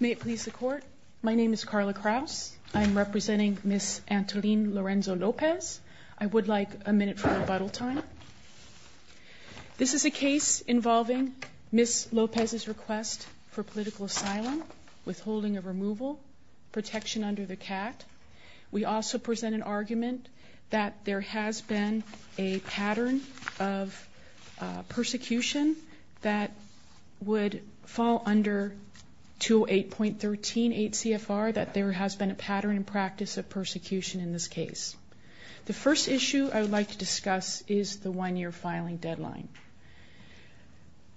May it please the Court. My name is Carla Kraus. I am representing Ms. Antolin Lorenzo-Lopez. I would like a minute for rebuttal time. This is a case involving Ms. Lopez's request for political asylum, withholding of removal, protection under the CAT. We also present an argument that there has been a pattern of persecution that would fall under 208.138 CFR, that there has been a pattern and practice of persecution in this case. The first issue I would like to discuss is the one year filing deadline.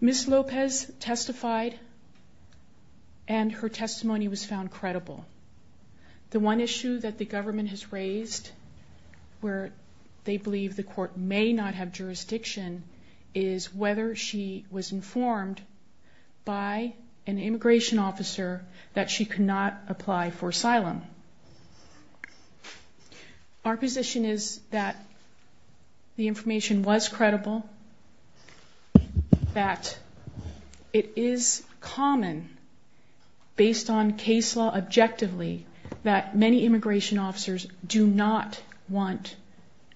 Ms. Lopez testified and her testimony was found credible. The one issue that the government has raised where they believe the court may not have jurisdiction is whether she was informed by an immigration officer that she could not apply for asylum. Our position is that the information was credible, that it is common based on case law objectively that many immigration officers do not want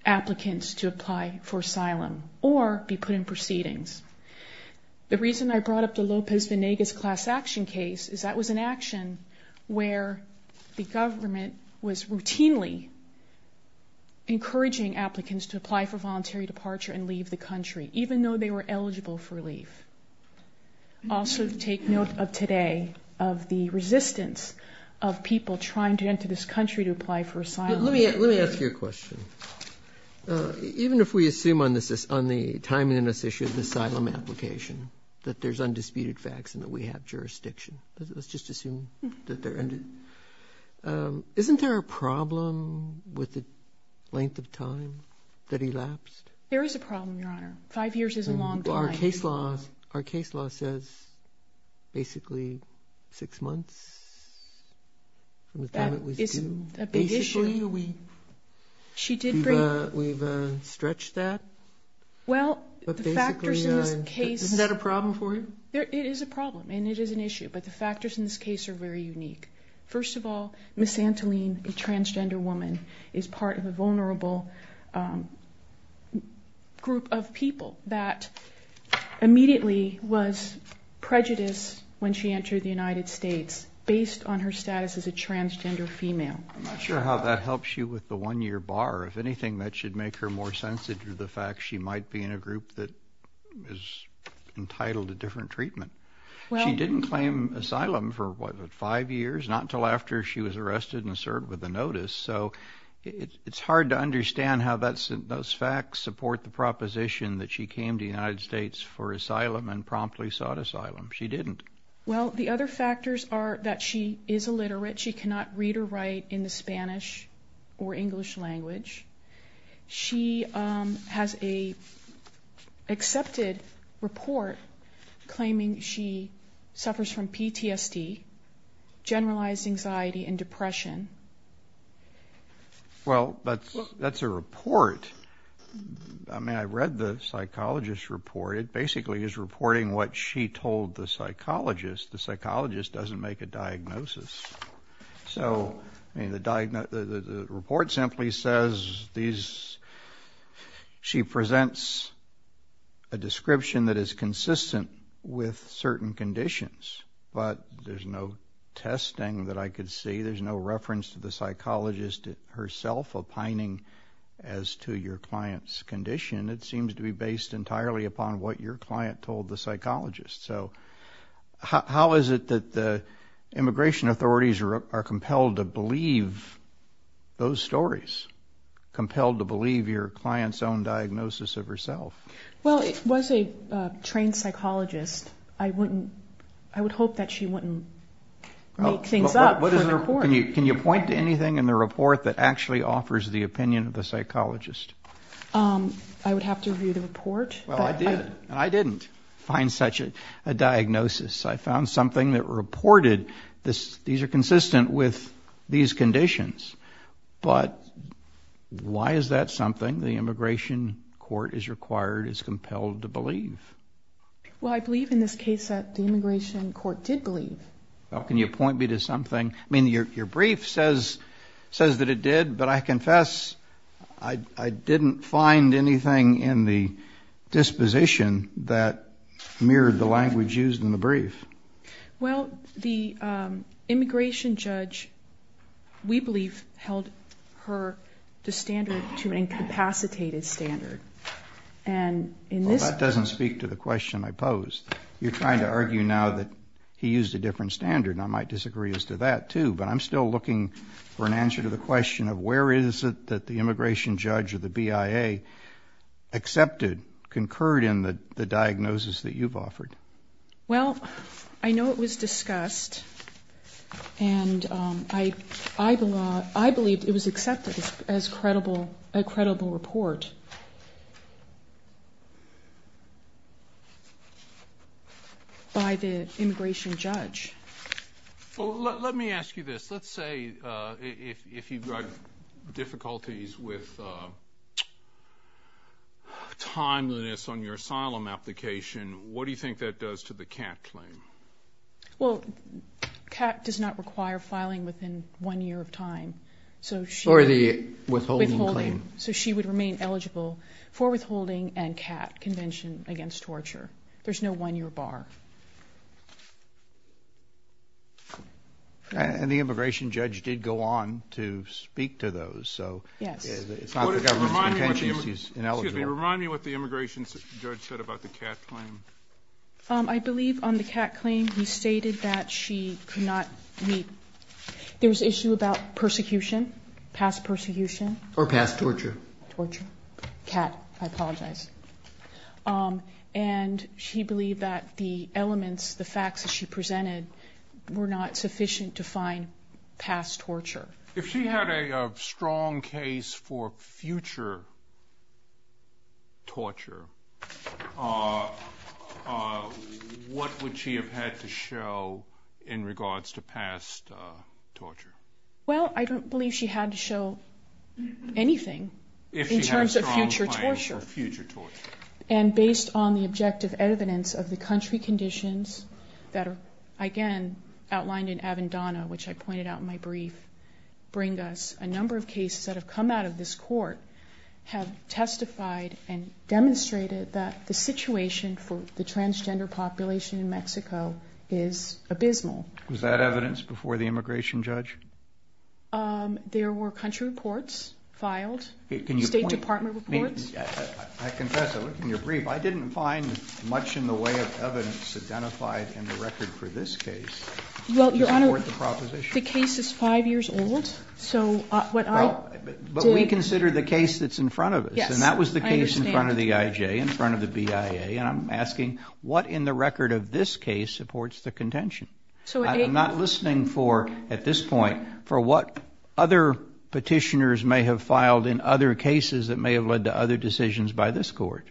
applicants to apply for asylum or be put in proceedings. The reason I brought up the Lopez-Venegas class action case is that was an action where the government was routinely encouraging applicants to apply for voluntary departure and leave the country, even though they were eligible for leave. Also take note of today of the resistance of people trying to enter this country to apply for asylum. Let me ask you a question. Even if we assume on the timing of this issue, the asylum application, that there's undisputed facts and that we have jurisdiction, let's just assume that there isn't. Isn't there a problem with the length of time that elapsed? There is a problem, Your Honor. Five years is a long time. Our case law says basically six months from the time it was due. That is a big issue. Basically we've stretched that. Well, the factors in this case... Isn't that a problem for you? It is a problem and it is an issue, but the factors in this case are very unique. First of all, Ms. Santoline, a transgender woman, is part of a vulnerable group of people that immediately was prejudiced when she entered the United States based on her status as a transgender female. I'm not sure how that helps you with the one-year bar. If anything, that should make her more sensitive to the fact she might be in a group that is entitled to different treatment. She didn't claim asylum for five years, not until after she was arrested and served with a notice. So it's hard to understand how those facts support the proposition that she came to the United States for asylum and promptly sought asylum. She didn't. Well, the other factors are that she is illiterate. She cannot read or write in the Spanish or English language. She has an accepted report claiming she suffers from PTSD, generalized anxiety, and depression. Well, that's a report. I mean, I read the psychologist's report. It basically is reporting what she told the psychologist. The psychologist doesn't make a diagnosis. So, I mean, the report simply says she presents a description that is consistent with certain conditions, but there's no testing that I could see. There's no reference to the psychologist herself opining as to your client's condition. It seems to be based entirely upon what your client told the psychologist. So how is it that the immigration authorities are compelled to believe those stories, compelled to believe your client's own diagnosis of herself? Well, it was a trained psychologist. I would hope that she wouldn't make things up for the court. Can you point to anything in the report that actually offers the opinion of the psychologist? I would have to review the report. Well, I did, and I didn't find such a diagnosis. I found something that reported these are consistent with these conditions. But why is that something the immigration court is required, is compelled to believe? Well, I believe in this case that the immigration court did believe. Well, can you point me to something? I mean, your brief says that it did, but I confess I didn't find anything in the disposition that mirrored the language used in the brief. Well, the immigration judge, we believe, held her to standard, to an incapacitated standard. And in this case. Well, that doesn't speak to the question I posed. You're trying to argue now that he used a different standard. And I might disagree as to that, too. But I'm still looking for an answer to the question of where is it that the immigration judge or the BIA accepted, concurred in the diagnosis that you've offered. Well, I know it was discussed, and I believe it was accepted as a credible report by the immigration judge. Let me ask you this. Let's say if you've got difficulties with timeliness on your asylum application, what do you think that does to the CAT claim? Well, CAT does not require filing within one year of time. Or the withholding claim. So she would remain eligible for withholding and CAT, Convention Against Torture. There's no one-year bar. And the immigration judge did go on to speak to those. So it's not the government's intentions he's ineligible. Excuse me. Remind me what the immigration judge said about the CAT claim. I believe on the CAT claim he stated that she could not meet. There was an issue about persecution, past persecution. Or past torture. Torture. CAT. I apologize. And she believed that the elements, the facts that she presented were not sufficient to find past torture. If she had a strong case for future torture, what would she have had to show in regards to past torture? Well, I don't believe she had to show anything in terms of future torture. And based on the objective evidence of the country conditions that are, again, outlined in Avendano, which I pointed out in my brief, bring us a number of cases that have come out of this court, have testified and demonstrated that the situation for the transgender population in Mexico is abysmal. Was that evidence before the immigration judge? There were country reports filed, State Department reports. I confess, I looked in your brief. I didn't find much in the way of evidence identified in the record for this case to support the proposition. Well, Your Honor, the case is five years old. But we consider the case that's in front of us. And that was the case in front of the IJ, in front of the BIA. And I'm asking, what in the record of this case supports the contention? I'm not listening for, at this point, for what other petitioners may have filed in other cases that may have led to other decisions by this court.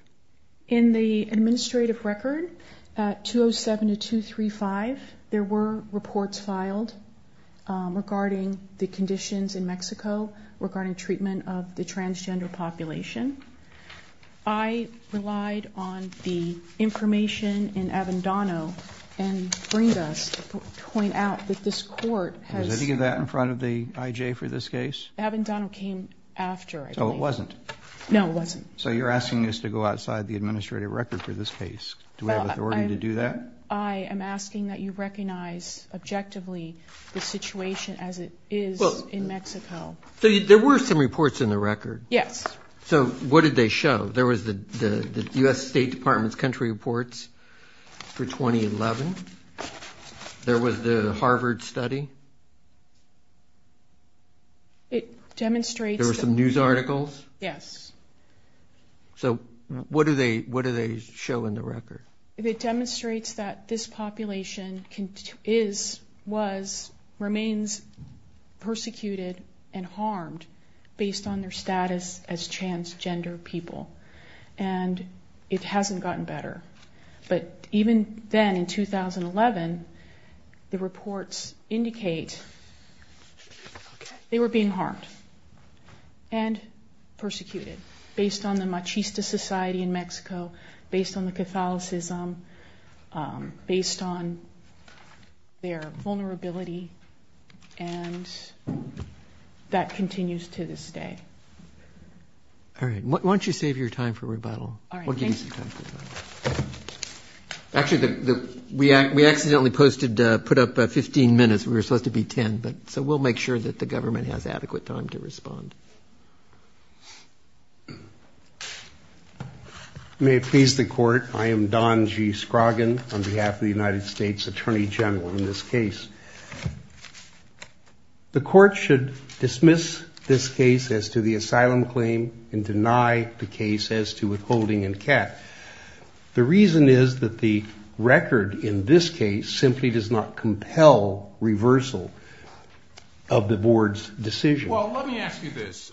In the administrative record, 207 to 235, there were reports filed regarding the conditions in Mexico, regarding treatment of the transgender population. I relied on the information in Avendano and Brindis to point out that this court has – Was any of that in front of the IJ for this case? Avendano came after, I believe. So it wasn't? No, it wasn't. So you're asking us to go outside the administrative record for this case. Do we have authority to do that? I am asking that you recognize objectively the situation as it is in Mexico. So there were some reports in the record? Yes. So what did they show? There was the U.S. State Department's country reports for 2011. There was the Harvard study. It demonstrates – There were some news articles. Yes. So what do they show in the record? It demonstrates that this population is, was, remains persecuted and harmed based on their status as transgender people, and it hasn't gotten better. But even then, in 2011, the reports indicate they were being harmed and persecuted based on the machista society in Mexico, based on the Catholicism, based on their vulnerability, and that continues to this day. All right. Why don't you save your time for rebuttal? All right. Thanks. Actually, we accidentally posted, put up 15 minutes. We were supposed to be 10, so we'll make sure that the government has adequate time to respond. May it please the Court, I am Don G. Scroggin on behalf of the United States Attorney General in this case. The Court should dismiss this case as to the asylum claim and deny the case as to withholding and CAT. The reason is that the record in this case simply does not compel reversal of the Board's decision. Well, let me ask you this.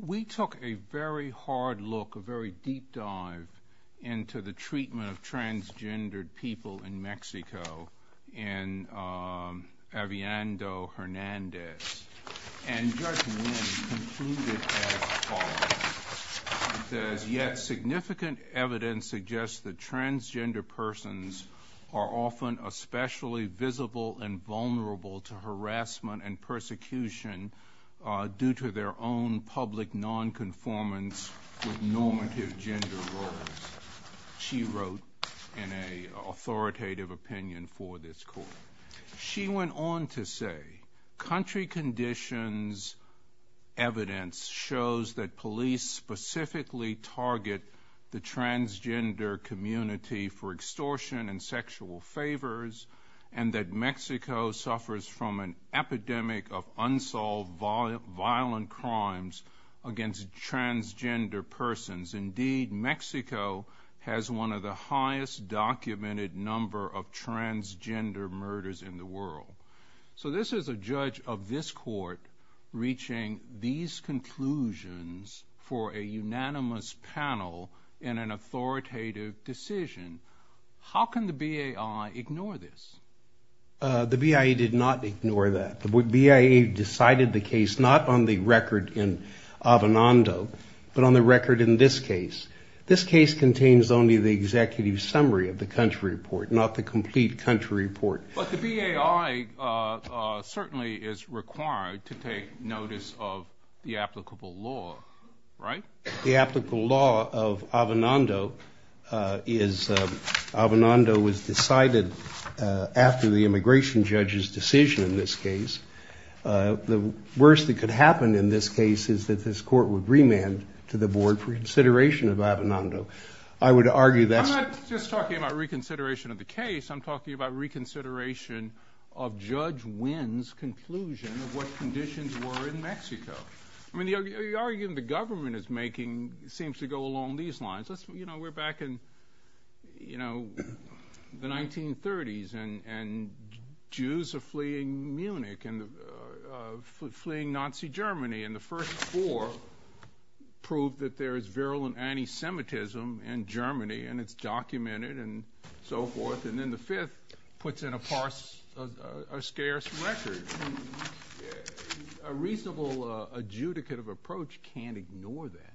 We took a very hard look, a very deep dive into the treatment of transgendered people in Mexico, in Eviando Hernandez, and Judge Lynn concluded as follows. It says, yet significant evidence suggests that transgender persons are often especially visible and vulnerable to harassment and persecution due to their own public nonconformance with normative gender roles. She wrote in an authoritative opinion for this Court. She went on to say, country conditions evidence shows that police specifically target the transgender community for extortion and sexual favors and that Mexico suffers from an epidemic of unsolved violent crimes against transgender persons. Indeed, Mexico has one of the highest documented number of transgender murders in the world. So this is a judge of this Court reaching these conclusions for a unanimous panel in an authoritative decision. How can the BAI ignore this? The BAI did not ignore that. The BIA decided the case not on the record in Avenando, but on the record in this case. This case contains only the executive summary of the country report, not the complete country report. But the BAI certainly is required to take notice of the applicable law, right? The applicable law of Avenando is, Avenando was decided after the immigration judge's decision in this case. The worst that could happen in this case is that this Court would remand to the board for consideration of Avenando. I would argue that's... I'm not just talking about reconsideration of the case. I'm talking about reconsideration of Judge Wynn's conclusion of what conditions were in Mexico. I mean, the argument the government is making seems to go along these lines. You know, we're back in, you know, the 1930s, and Jews are fleeing Munich and fleeing Nazi Germany. And the first four prove that there is virulent anti-Semitism in Germany, and it's documented and so forth. And then the fifth puts in a scarce record. A reasonable adjudicate of approach can't ignore that.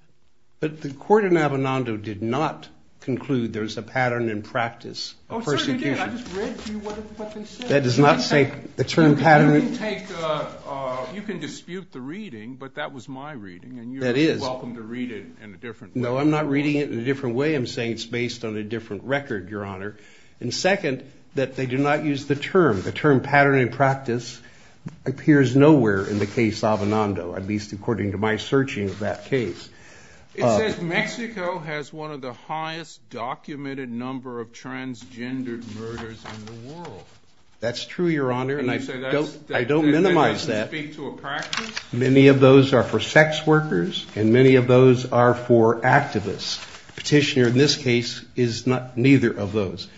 But the Court in Avenando did not conclude there's a pattern in practice of persecution. Oh, certainly did. I just read to you what they said. That does not say the term pattern. You can dispute the reading, but that was my reading, and you're welcome to read it in a different way. No, I'm not reading it in a different way. I'm saying it's based on a different record, Your Honor. And second, that they do not use the term. The term pattern in practice appears nowhere in the case of Avenando, at least according to my searching of that case. That's true, Your Honor, and I don't minimize that. It doesn't speak to a practice? Many of those are for sex workers, and many of those are for activists. Petitioner, in this case, is neither of those.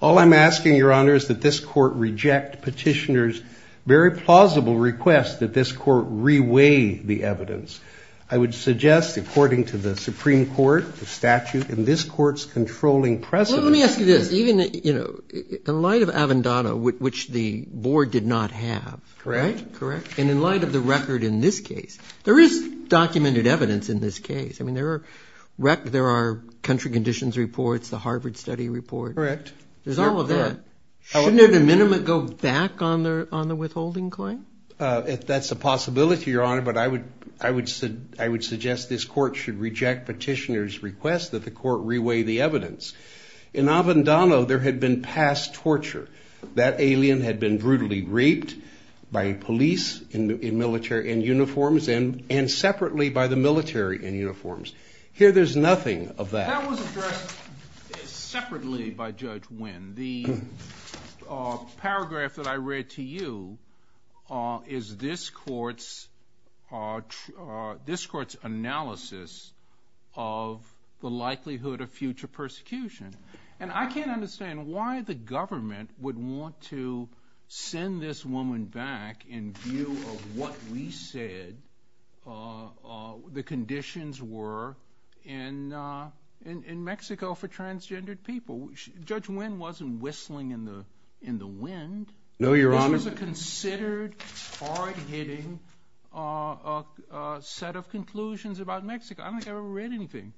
All I'm asking, Your Honor, is that this Court reject Petitioner's very plausible request that this Court reweigh the evidence. I would suggest, according to the Supreme Court, the statute, and this Court's controlling precedent. Well, let me ask you this. Even, you know, in light of Avenando, which the Board did not have. Correct. Correct. And in light of the record in this case, there is documented evidence in this case. I mean, there are country conditions reports, the Harvard study report. Correct. There's all of that. Shouldn't it at a minimum go back on the withholding claim? That's a possibility, Your Honor, but I would suggest this Court should reject Petitioner's request that the Court reweigh the evidence. In Avenando, there had been past torture. That alien had been brutally raped by police in military uniforms and separately by the military in uniforms. Here there's nothing of that. That was addressed separately by Judge Wynn. The paragraph that I read to you is this Court's analysis of the likelihood of future persecution. And I can't understand why the government would want to send this woman back in view of what we said the conditions were in Mexico for transgendered people. Judge Wynn wasn't whistling in the wind. No, Your Honor. This was a considered hard-hitting set of conclusions about Mexico. I don't think I ever read anything.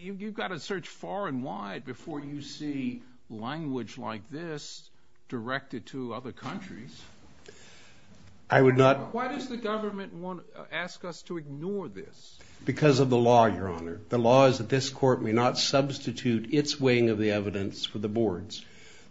You've got to search far and wide before you see language like this directed to other countries. I would not. Why does the government want to ask us to ignore this? Because of the law, Your Honor. The law is that this Court may not substitute its weighing of the evidence for the board's.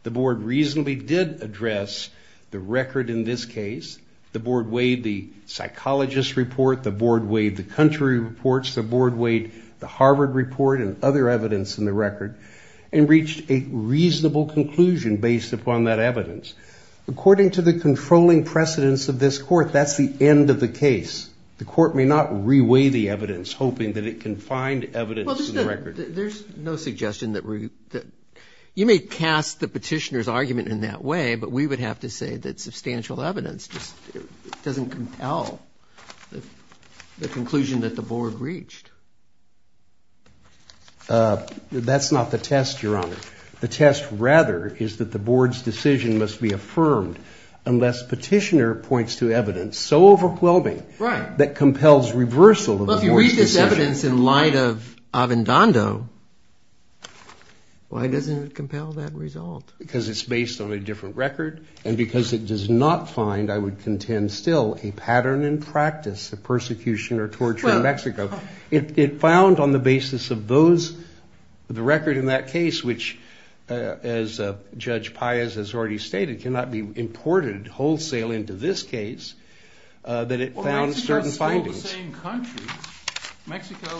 The board reasonably did address the record in this case. The board weighed the psychologist's report. The board weighed the country reports. The board weighed the Harvard report and other evidence in the record and reached a reasonable conclusion based upon that evidence. According to the controlling precedence of this Court, that's the end of the case. The Court may not re-weigh the evidence, hoping that it can find evidence in the record. Your Honor, there's no suggestion that we – you may cast the petitioner's argument in that way, but we would have to say that substantial evidence just doesn't compel the conclusion that the board reached. That's not the test, Your Honor. The test, rather, is that the board's decision must be affirmed unless petitioner points to evidence so overwhelming that compels reversal of the board's decision. Evidence in light of Avendando, why doesn't it compel that result? Because it's based on a different record, and because it does not find, I would contend still, a pattern in practice of persecution or torture in Mexico. It found on the basis of those – the record in that case, which, as Judge Paez has already stated, cannot be imported wholesale into this case, that it found certain findings. They're all the same country. Mexico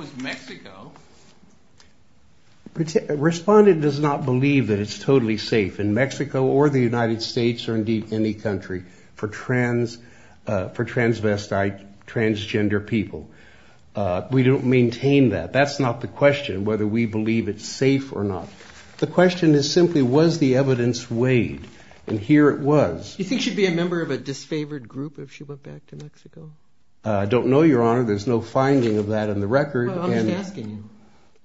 is Mexico. Respondent does not believe that it's totally safe in Mexico or the United States or indeed any country for transvestite, transgender people. We don't maintain that. That's not the question, whether we believe it's safe or not. The question is simply, was the evidence weighed? And here it was. Do you think she'd be a member of a disfavored group if she went back to Mexico? I don't know, Your Honor. There's no finding of that in the record. Well, I'm just asking you.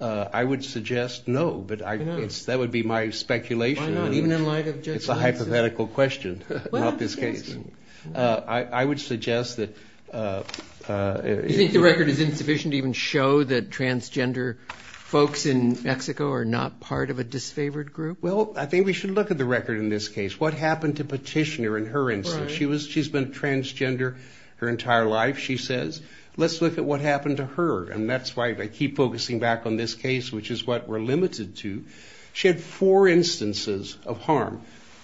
I would suggest no, but that would be my speculation. Why not? Even in light of Judge Paez's – It's a hypothetical question about this case. I would suggest that – Do you think the record is insufficient to even show that transgender folks in Mexico are not part of a disfavored group? Well, I think we should look at the record in this case. What happened to Petitioner in her instance? She's been transgender her entire life, she says. Let's look at what happened to her, and that's why I keep focusing back on this case, which is what we're limited to. She had four instances of harm.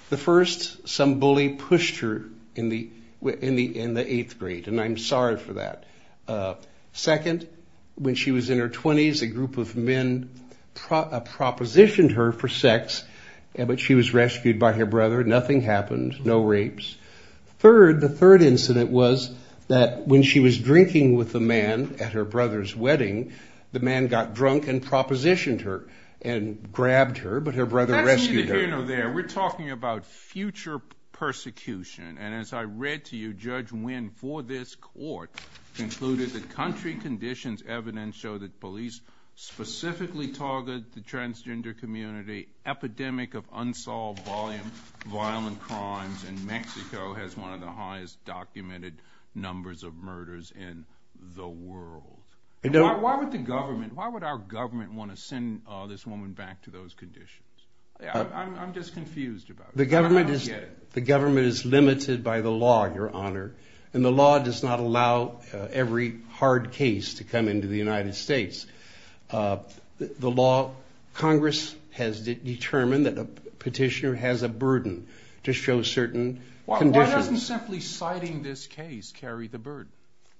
The first, some bully pushed her in the eighth grade, and I'm sorry for that. Second, when she was in her 20s, a group of men propositioned her for sex, but she was rescued by her brother. Nothing happened. No rapes. Third, the third incident was that when she was drinking with a man at her brother's wedding, the man got drunk and propositioned her and grabbed her, but her brother rescued her. We're talking about future persecution, and as I read to you, Judge Winn for this court concluded that country conditions evidence show that police specifically target the transgender community. Epidemic of unsolved violent crimes in Mexico has one of the highest documented numbers of murders in the world. Why would our government want to send this woman back to those conditions? I'm just confused about it. The government is limited by the law, Your Honor, and the law does not allow every hard case to come into the United States. The law, Congress has determined that a petitioner has a burden to show certain conditions. Why doesn't simply citing this case carry the burden?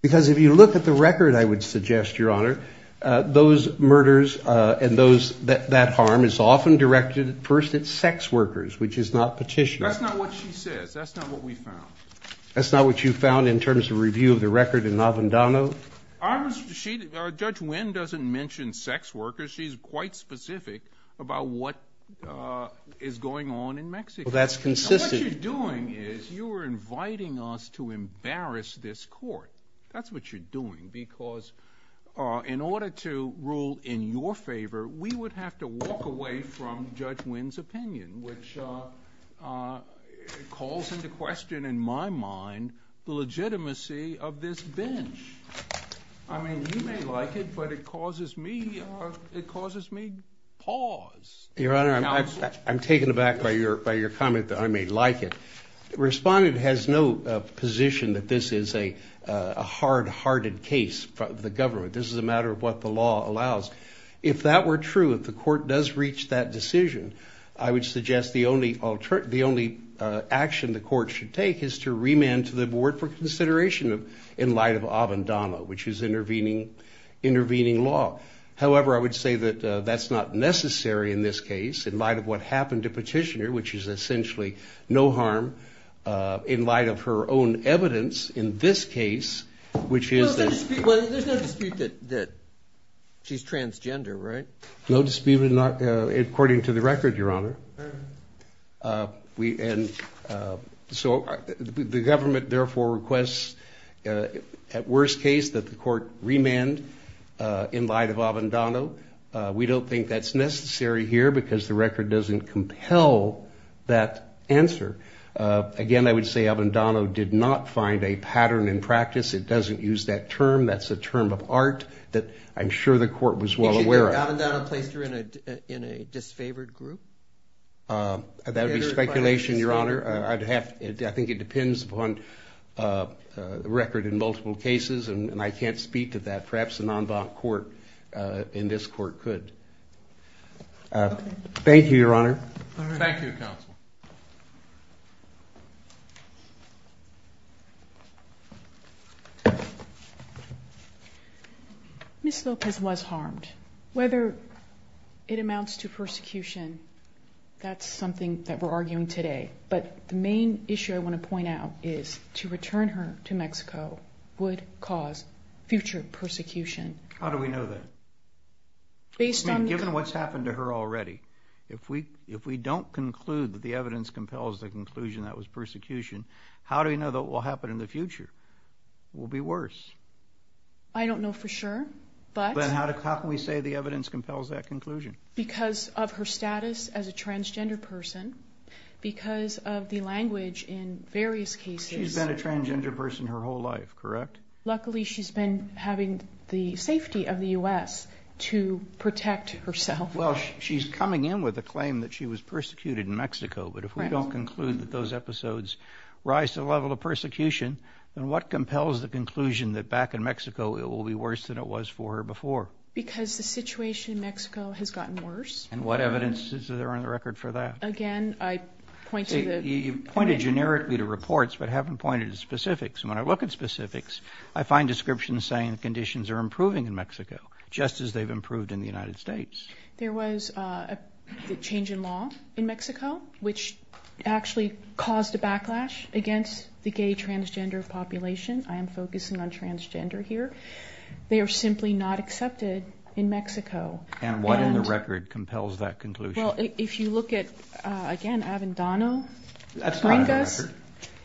Because if you look at the record, I would suggest, Your Honor, those murders and that harm is often directed first at sex workers, which is not petitioners. That's not what she says. That's not what we found. That's not what you found in terms of review of the record in Avendano? Judge Winn doesn't mention sex workers. She's quite specific about what is going on in Mexico. Well, that's consistent. What you're doing is you're inviting us to embarrass this court. That's what you're doing because in order to rule in your favor, we would have to walk away from Judge Winn's opinion, which calls into question, in my mind, the legitimacy of this bench. I mean, you may like it, but it causes me pause. Your Honor, I'm taken aback by your comment that I may like it. Respondent has no position that this is a hard-hearted case for the government. This is a matter of what the law allows. If that were true, if the court does reach that decision, I would suggest the only action the court should take is to remand to the board for consideration in light of Avendano, which is intervening law. However, I would say that that's not necessary in this case in light of what happened to Petitioner, which is essentially no harm in light of her own evidence in this case, which is that – Well, there's no dispute that she's transgender, right? No dispute according to the record, Your Honor. And so the government therefore requests, at worst case, that the court remand in light of Avendano. We don't think that's necessary here because the record doesn't compel that answer. Again, I would say Avendano did not find a pattern in practice. It doesn't use that term. That's a term of art that I'm sure the court was well aware of. Would you say that Avendano placed her in a disfavored group? That would be speculation, Your Honor. I think it depends upon the record in multiple cases, and I can't speak to that. Perhaps a non-bond court in this court could. Thank you, Counsel. Ms. Lopez was harmed. Whether it amounts to persecution, that's something that we're arguing today. But the main issue I want to point out is to return her to Mexico would cause future persecution. How do we know that? Based on the – Given what's happened to her already, if we don't conclude that these people were harmed, if the evidence compels the conclusion that it was persecution, how do we know that what will happen in the future will be worse? I don't know for sure. But how can we say the evidence compels that conclusion? Because of her status as a transgender person, because of the language in various cases. She's been a transgender person her whole life, correct? Luckily, she's been having the safety of the U.S. to protect herself. Well, she's coming in with a claim that she was persecuted in Mexico. But if we don't conclude that those episodes rise to the level of persecution, then what compels the conclusion that back in Mexico it will be worse than it was for her before? Because the situation in Mexico has gotten worse. And what evidence is there on the record for that? Again, I point to the – You've pointed generically to reports but haven't pointed to specifics. And when I look at specifics, I find descriptions saying conditions are improving in Mexico, just as they've improved in the United States. There was a change in law in Mexico, which actually caused a backlash against the gay transgender population. I am focusing on transgender here. They are simply not accepted in Mexico. And what in the record compels that conclusion? Well, if you look at, again, Avendano, Gringas,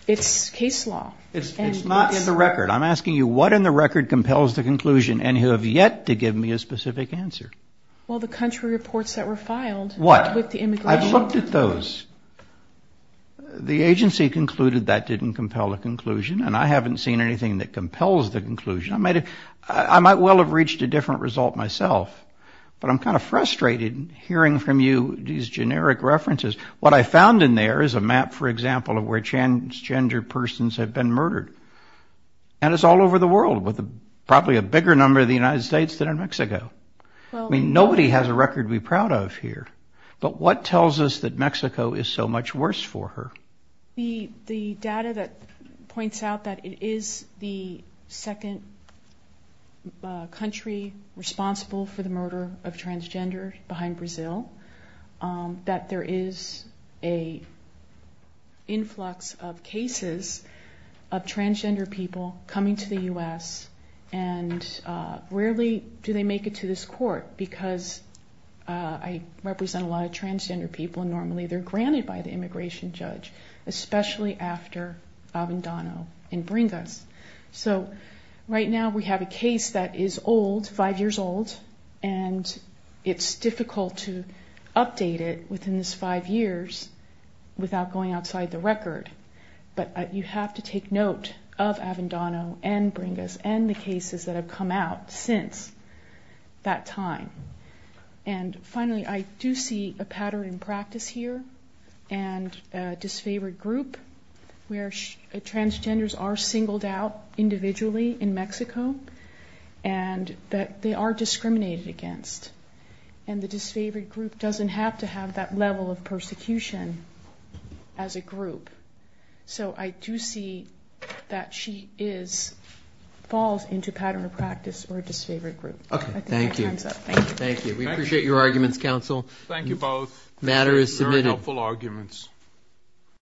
it's case law. It's not in the record. I'm asking you what in the record compels the conclusion, and you have yet to give me a specific answer. Well, the country reports that were filed. What? With the immigration. I've looked at those. The agency concluded that didn't compel a conclusion, and I haven't seen anything that compels the conclusion. I might well have reached a different result myself. But I'm kind of frustrated hearing from you these generic references. What I found in there is a map, for example, of where transgender persons have been murdered. And it's all over the world, with probably a bigger number in the United States than in Mexico. I mean, nobody has a record to be proud of here. But what tells us that Mexico is so much worse for her? The data that points out that it is the second country responsible for the murder of transgender behind Brazil, that there is an influx of cases of transgender people coming to the U.S., and rarely do they make it to this court, because I represent a lot of transgender people, and normally they're granted by the immigration judge, especially after Avendano and Bringas. So right now we have a case that is old, five years old, and it's difficult to update it within these five years without going outside the record. But you have to take note of Avendano and Bringas and the cases that have come out since that time. And finally, I do see a pattern in practice here, and a disfavored group where transgenders are singled out individually in Mexico, and that they are discriminated against. And the disfavored group doesn't have to have that level of persecution as a group. So I do see that she falls into a pattern of practice or a disfavored group. Thank you. We appreciate your arguments, counsel. Thank you both. Very helpful arguments.